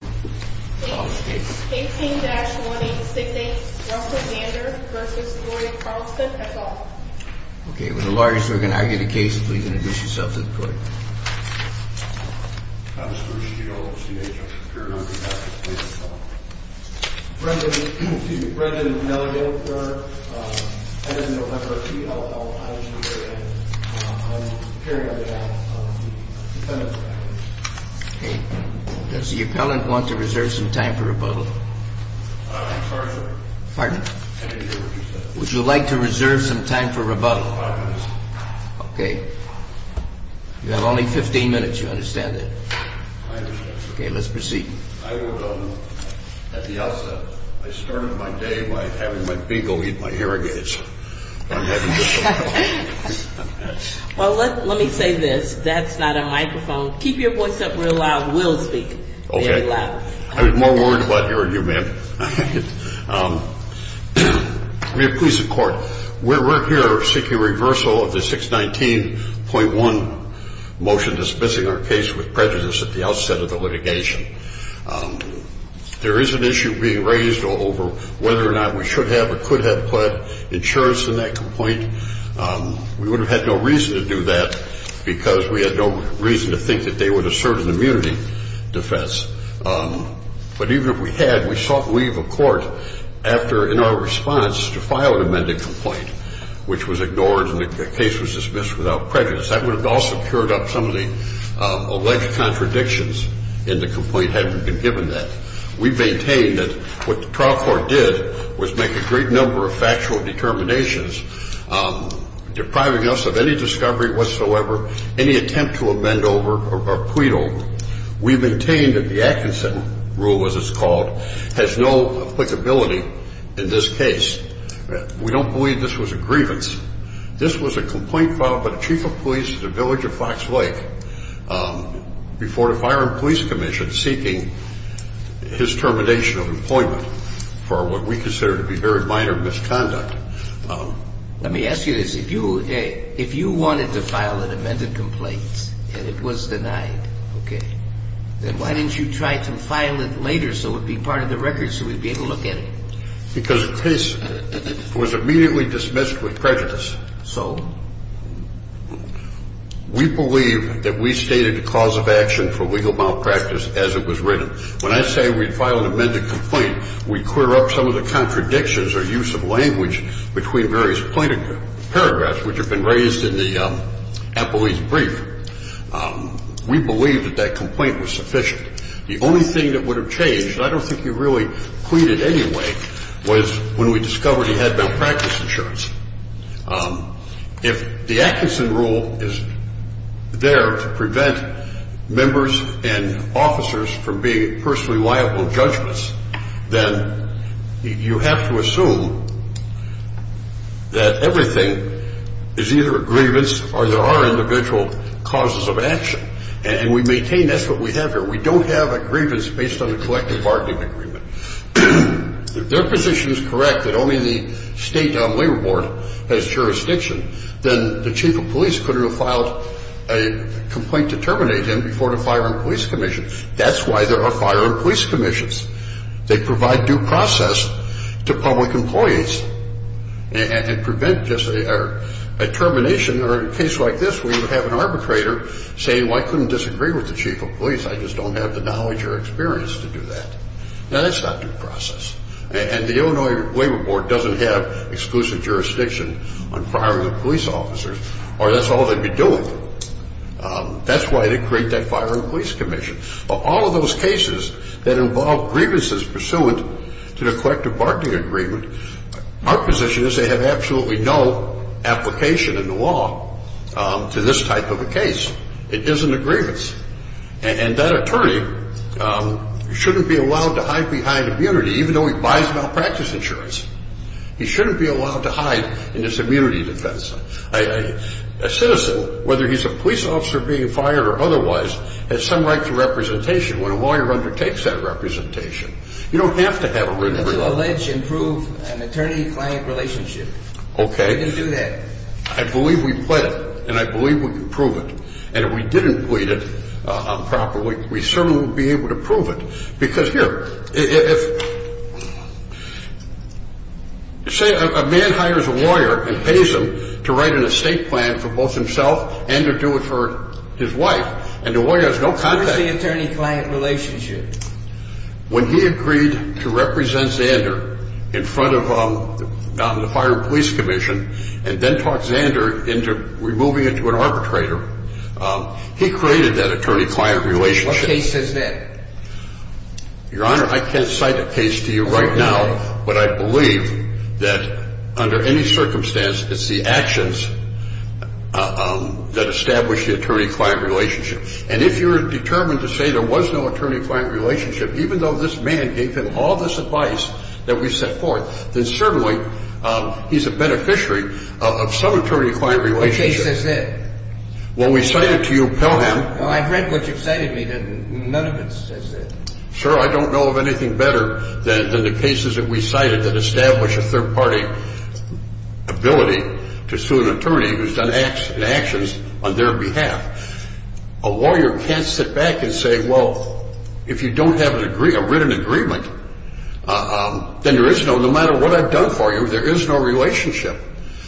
Case 18-1868, Russell Zander v. Floyd Carlson, et al. Okay, with the lawyers who are going to argue the case, please introduce yourself to the court. I'm Bruce Shield, C.H.O. for the Paranormal Justice Committee. I'm the president of the Nellie Hill Court. As of November of 2011, I'm appearing on behalf of the defendant's family. Okay, does the appellant want to reserve some time for rebuttal? I'm sorry, sir. Pardon? I didn't hear what you said. Would you like to reserve some time for rebuttal? Five minutes. Okay. You have only 15 minutes, you understand that? I understand, sir. Okay, let's proceed. I will, at the outset, I started my day by having my bingo eat my hair again. Well, let me say this. That's not a microphone. Keep your voice up real loud. We'll speak very loud. Okay. I was more worried about hearing you, ma'am. I mean, please, the court, we're here seeking reversal of the 619.1 motion dismissing our case with prejudice at the outset of the litigation. There is an issue being raised over whether or not we should have or could have put insurance in that complaint. We would have had no reason to do that because we had no reason to think that they would assert an immunity defense. But even if we had, we sought leave of court after, in our response, to file an amended complaint, which was ignored and the case was dismissed without prejudice. That would have also cured up some of the alleged contradictions in the complaint had we been given that. We maintain that what the trial court did was make a great number of factual determinations, depriving us of any discovery whatsoever, any attempt to amend over or plead over. We maintain that the Atkinson rule, as it's called, has no applicability in this case. We don't believe this was a grievance. This was a complaint filed by the chief of police at the village of Fox Lake before the Fire and Police Commission seeking his termination of employment for what we consider to be very minor misconduct. Let me ask you this. If you wanted to file an amended complaint and it was denied, okay, then why didn't you try to file it later so it would be part of the record so we'd be able to look at it? Because the case was immediately dismissed with prejudice. So we believe that we stated the cause of action for legal malpractice as it was written. When I say we'd file an amended complaint, we'd clear up some of the contradictions or use of language between various plaintiff paragraphs, which have been raised in the appellee's brief. We believe that that complaint was sufficient. The only thing that would have changed, and I don't think you really pleaded anyway, was when we discovered he had malpractice insurance. If the Atkinson rule is there to prevent members and officers from being personally liable judgments, then you have to assume that everything is either a grievance or there are individual causes of action. And we maintain that's what we have here. We don't have a grievance based on a collective bargaining agreement. If their position is correct that only the state labor board has jurisdiction, then the chief of police couldn't have filed a complaint to terminate him before the Fire and Police Commission. That's why there are Fire and Police Commissions. They provide due process to public employees and prevent just a termination. Or in a case like this where you have an arbitrator saying, well, I couldn't disagree with the chief of police. I just don't have the knowledge or experience to do that. Now, that's not due process. And the Illinois Labor Board doesn't have exclusive jurisdiction on firing the police officers, or that's all they'd be doing. That's why they create that Fire and Police Commission. Of all of those cases that involve grievances pursuant to the collective bargaining agreement, our position is they have absolutely no application in the law to this type of a case. It isn't a grievance. And that attorney shouldn't be allowed to hide behind immunity, even though he buys malpractice insurance. He shouldn't be allowed to hide in his immunity defense. A citizen, whether he's a police officer being fired or otherwise, has some right to representation. When a lawyer undertakes that representation, you don't have to have a written agreement. You can still allege and prove an attorney-client relationship. Okay. You can do that. I believe we've pled it, and I believe we can prove it. And if we didn't plead it properly, we certainly would be able to prove it. Because here, if, say, a man hires a lawyer and pays him to write an estate plan for both himself and to do it for his wife, and the lawyer has no contact. Where's the attorney-client relationship? When he agreed to represent Zander in front of the Fire and Police Commission and then talk Zander into removing it to an arbitrator, he created that attorney-client relationship. What case is that? Your Honor, I can't cite a case to you right now, but I believe that under any circumstance, it's the actions that establish the attorney-client relationship. And if you're determined to say there was no attorney-client relationship, even though this man gave him all this advice that we set forth, then certainly he's a beneficiary of some attorney-client relationship. What case is it? When we cite it to you, tell him. I've read what you've cited me, and none of it says it. Sir, I don't know of anything better than the cases that we cited that establish a third-party ability to sue an attorney who's done actions on their behalf. A lawyer can't sit back and say, well, if you don't have a written agreement, then there is no, no matter what I've done for you, there is no relationship.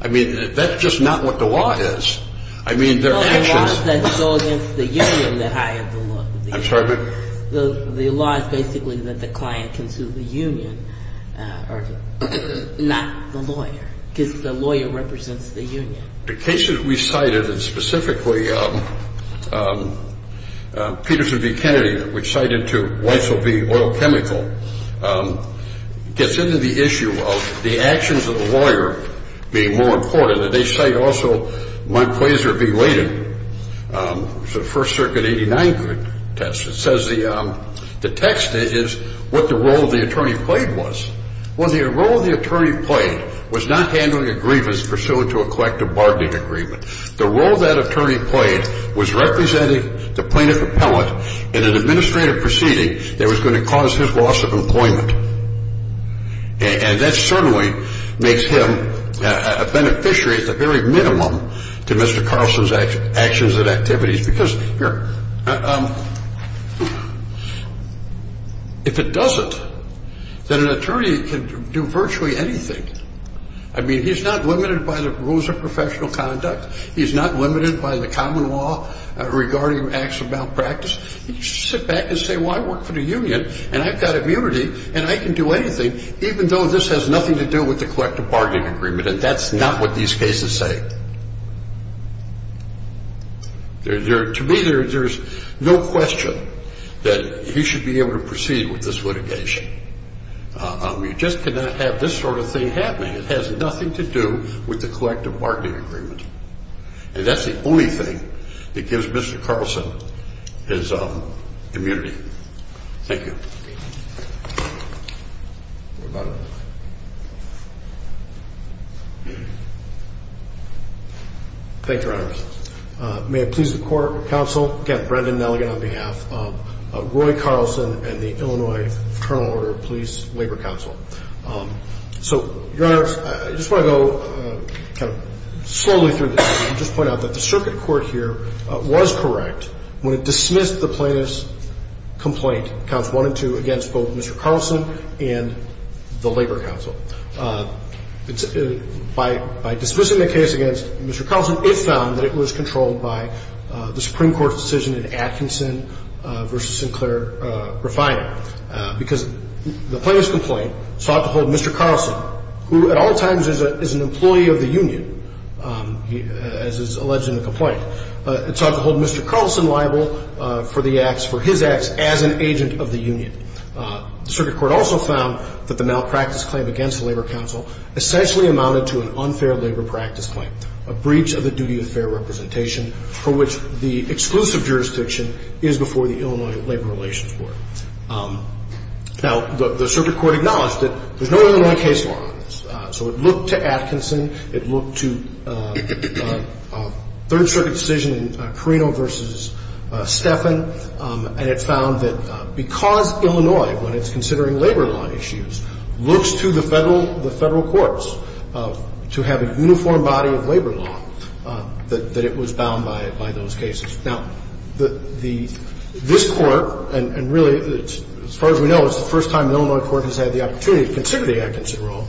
I mean, that's just not what the law is. I mean, there are actions. No, the law is that it's against the union that hired the lawyer. I'm sorry, but? The law is basically that the client can sue the union, not the lawyer, because the lawyer represents the union. The cases we cited, and specifically Peterson v. Kennedy, which cited to Weissel v. Oil Chemical, gets into the issue of the actions of the lawyer being more important, and they cite also Montclazer v. Leighton. It's a First Circuit 89 test that says the text is what the role of the attorney played was. Well, the role the attorney played was not handling agreements pursuant to a collective bargaining agreement. The role that attorney played was representing the plaintiff appellate in an administrative proceeding that was going to cause his loss of employment, and that certainly makes him a beneficiary at the very minimum to Mr. Carlson's actions and activities, because here, if it doesn't, then an attorney can do virtually anything. I mean, he's not limited by the rules of professional conduct. He's not limited by the common law regarding acts of malpractice. He can just sit back and say, well, I work for the union, and I've got immunity, and I can do anything, even though this has nothing to do with the collective bargaining agreement, and that's not what these cases say. To me, there's no question that he should be able to proceed with this litigation. You just cannot have this sort of thing happening. It has nothing to do with the collective bargaining agreement, and that's the only thing that gives Mr. Carlson his immunity. Thank you. Your Honor. Thank you, Your Honor. May it please the court, counsel, again, Brendan Nelligan on behalf of Roy Carlson and the Illinois Fraternal Order of Police Labor Council. So, Your Honor, I just want to go kind of slowly through this and just point out that the circuit court here was correct when it dismissed the plaintiff's complaint, counts one and two, against both Mr. Carlson and the labor council. By dismissing the case against Mr. Carlson, it found that it was controlled by the Supreme Court's decision in Atkinson v. Sinclair-Refiner because the plaintiff's complaint sought to hold Mr. Carlson, who at all times is an employee of the union, as is alleged in the complaint. It sought to hold Mr. Carlson liable for the acts, for his acts as an agent of the union. The circuit court also found that the malpractice claim against the labor council essentially amounted to an unfair labor practice claim, a breach of the duty of fair representation for which the exclusive jurisdiction is before the Illinois Labor Relations Board. Now, the circuit court acknowledged that there's no Illinois case law on this. So it looked to Atkinson. It looked to a Third Circuit decision in Carino v. Stephan, and it found that because Illinois, when it's considering labor law issues, looks to the Federal courts to have a uniform body of labor law, that it was bound by those cases. Now, this Court, and really, as far as we know, it's the first time an Illinois court has had the opportunity to consider the Atkinson rule.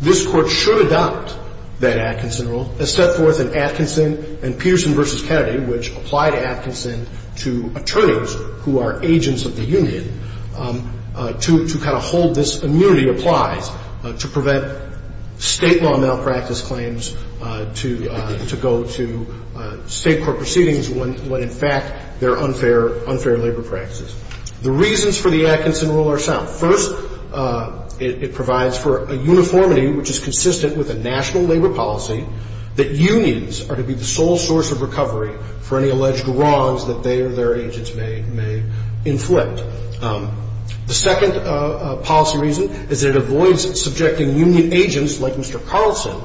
This Court should adopt that Atkinson rule, as set forth in Atkinson and Peterson v. Kennedy, which apply to Atkinson to attorneys who are agents of the union, to kind of hold this immunity applies to prevent state law malpractice claims to go to state court proceedings when, in fact, they're unfair labor practices. The reasons for the Atkinson rule are sound. First, it provides for a uniformity which is consistent with a national labor policy that unions are to be the sole source of recovery for any alleged wrongs that they or their agents may inflict. The second policy reason is it avoids subjecting union agents like Mr. Carlson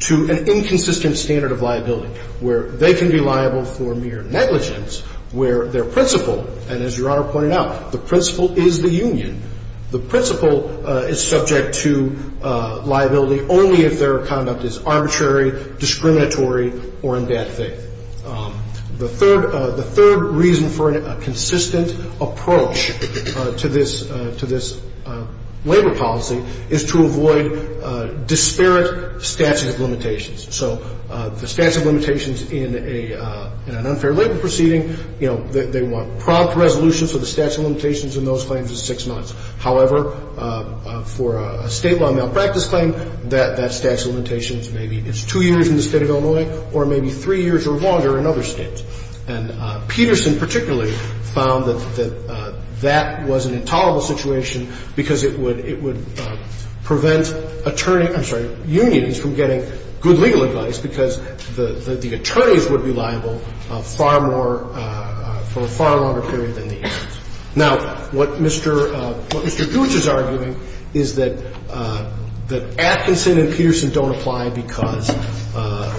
to an inconsistent standard of liability where they can be liable for mere negligence, where their principle, and as Your Honor pointed out, the principle is the union. The principle is subject to liability only if their conduct is arbitrary, discriminatory, or in bad faith. The third reason for a consistent approach to this labor policy is to avoid disparate statute of limitations. So the statute of limitations in an unfair labor proceeding, you know, they want prompt resolution so the statute of limitations in those claims is six months. However, for a state law malpractice claim, that statute of limitations maybe is two years in the state of Illinois or maybe three years or longer in other states. And Peterson particularly found that that was an intolerable situation because it would prevent attorneys I'm sorry, unions from getting good legal advice because the attorneys would be liable far more for a far longer period than the agents. Now, what Mr. Gooch is arguing is that Atkinson and Peterson don't apply because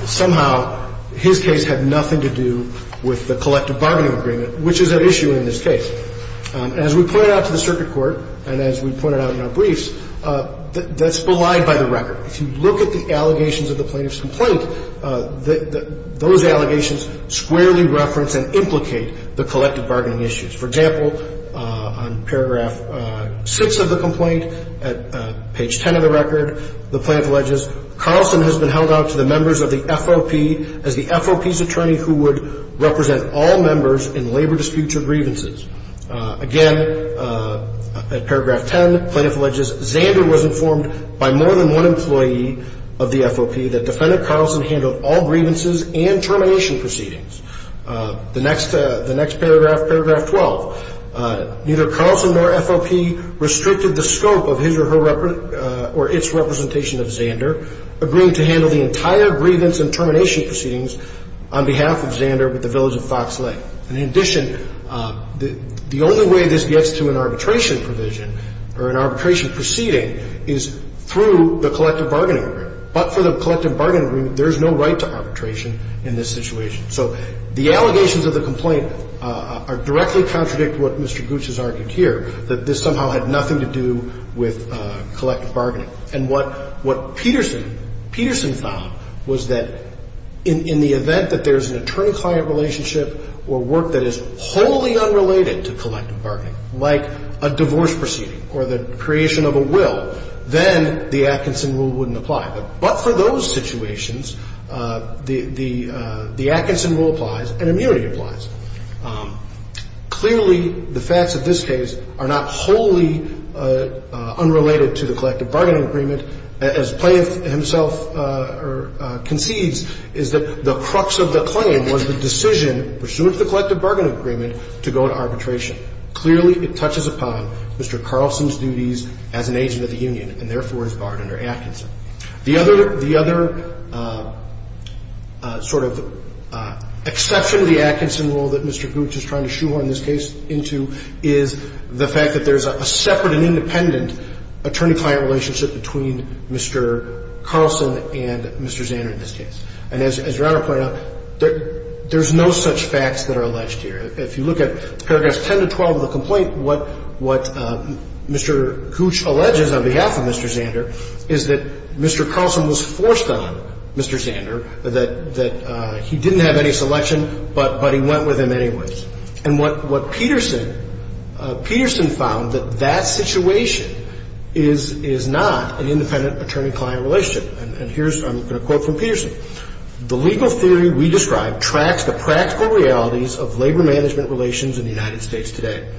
somehow his case had nothing to do with the collective bargaining agreement, which is at issue in this case. As we pointed out to the circuit court and as we pointed out in our briefs, that's belied by the record. If you look at the allegations of the plaintiff's complaint, those allegations squarely reference and implicate the collective bargaining issues. For example, on paragraph 6 of the complaint, at page 10 of the record, the plaintiff alleges Carlson has been held out to the members of the FOP as the FOP's attorney who would represent all members in labor disputes or grievances. Again, at paragraph 10, the plaintiff alleges Zander was informed by more than one employee of the FOP that Defendant Carlson handled all grievances and termination proceedings. The next paragraph, paragraph 12, neither Carlson nor FOP restricted the scope of his or her or its representation of Zander, agreeing to handle the entire grievance and termination proceedings on behalf of Zander with the village of Fox Lake. And in addition, the only way this gets to an arbitration provision or an arbitration proceeding is through the collective bargaining agreement. But for the collective bargaining agreement, there's no right to arbitration in this situation. So the allegations of the complaint directly contradict what Mr. Gooch has argued here, that this somehow had nothing to do with collective bargaining. And what Peterson found was that in the event that there's an attorney-client relationship or work that is wholly unrelated to collective bargaining, like a divorce proceeding or the creation of a will, then the Atkinson rule wouldn't apply. But for those situations, the Atkinson rule applies and immunity applies. Clearly, the facts of this case are not wholly unrelated to the collective bargaining agreement. The other exception to the Atkinson rule that Mr. Gooch is trying to shoehorn this case into is the fact that there's a separate and independent attorney-client relationship between Mr. Carlson and Mr. Zander in this case. And as Your Honor pointed out, there's no such facts that are alleged here. If you look at paragraphs 10 to 12 of the complaint, what Mr. Gooch alleges on behalf of Mr. Zander is that Mr. Carlson was forced on Mr. Zander, that he didn't have any selection, but he went with him anyways. And what Peterson found, that that situation is not an independent attorney-client relationship. And I'm going to quote from Peterson. The legal theory we described tracks the practical realities of labor-management relations in the United States today.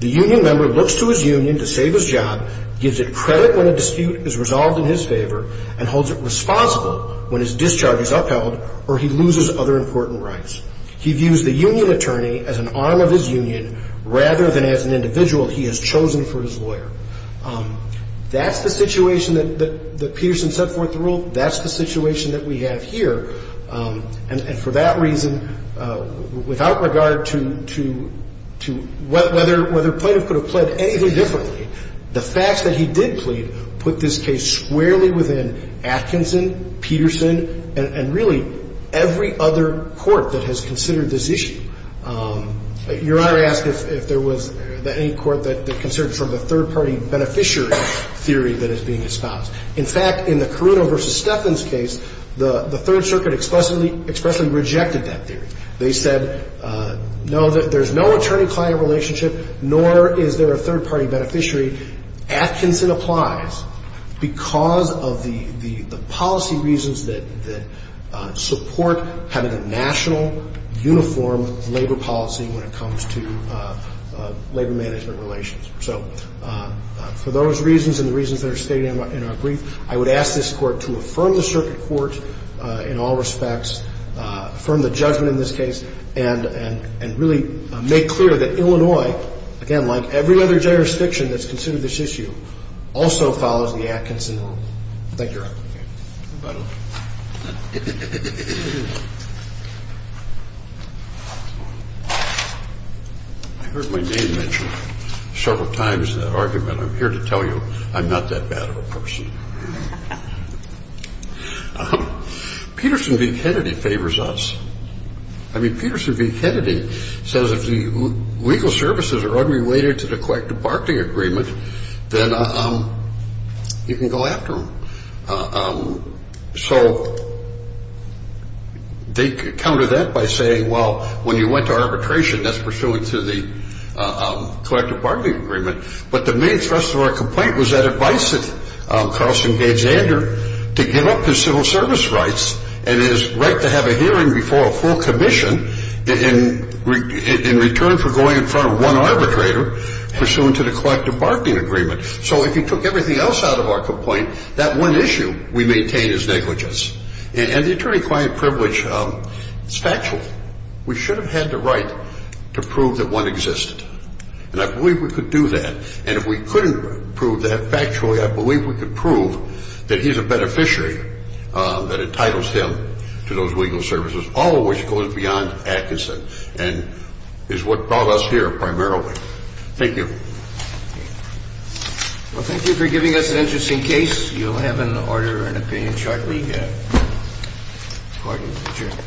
The union member looks to his union to save his job, gives it credit when a dispute is resolved in his favor, and holds it responsible when his discharge is upheld or he loses other important rights. He views the union attorney as an arm of his union rather than as an individual he has chosen for his lawyer. That's the situation that Peterson set forth the rule. That's the situation that we have here. And for that reason, without regard to whether a plaintiff could have pled anything differently, the facts that he did plead put this case squarely within Atkinson, Peterson, and really every other court that has considered this issue. Your Honor asked if there was any court that considered from the third-party beneficiary theory that is being espoused. In fact, in the Carruno v. Steffens case, the Third Circuit expressly rejected that theory. They said, no, there's no attorney-client relationship, nor is there a third-party beneficiary. Atkinson applies because of the policy reasons that support having a national, uniform labor policy when it comes to labor management relations. So for those reasons and the reasons that are stated in our brief, I would ask this Court to affirm the circuit court in all respects, affirm the judgment in this case, and really make clear that Illinois, again, like every other jurisdiction that's considered this issue, also follows the Atkinson rule. Thank you, Your Honor. I heard my name mentioned several times in that argument. I'm here to tell you I'm not that bad of a person. Peterson v. Kennedy favors us. I mean, Peterson v. Kennedy says if the legal services are unrelated to the collective bargaining agreement, then you can go after them. So they counter that by saying, well, when you went to arbitration, that's pursuant to the collective bargaining agreement. But the main thrust of our complaint was that advice that Carlson gave Zander to give up his civil service rights and his right to have a hearing before a full commission in return for going in front of one arbitrator, pursuant to the collective bargaining agreement. So if you took everything else out of our complaint, that one issue we maintain is negligence. And the attorney-client privilege is factual. We should have had the right to prove that one existed. And I believe we could do that. And if we couldn't prove that factually, I believe we could prove that he's a beneficiary that entitles him to those legal services, all of which goes beyond Atkinson and is what brought us here primarily. Thank you. Well, thank you for giving us an interesting case. You'll have an order and an opinion shortly, according to the judge.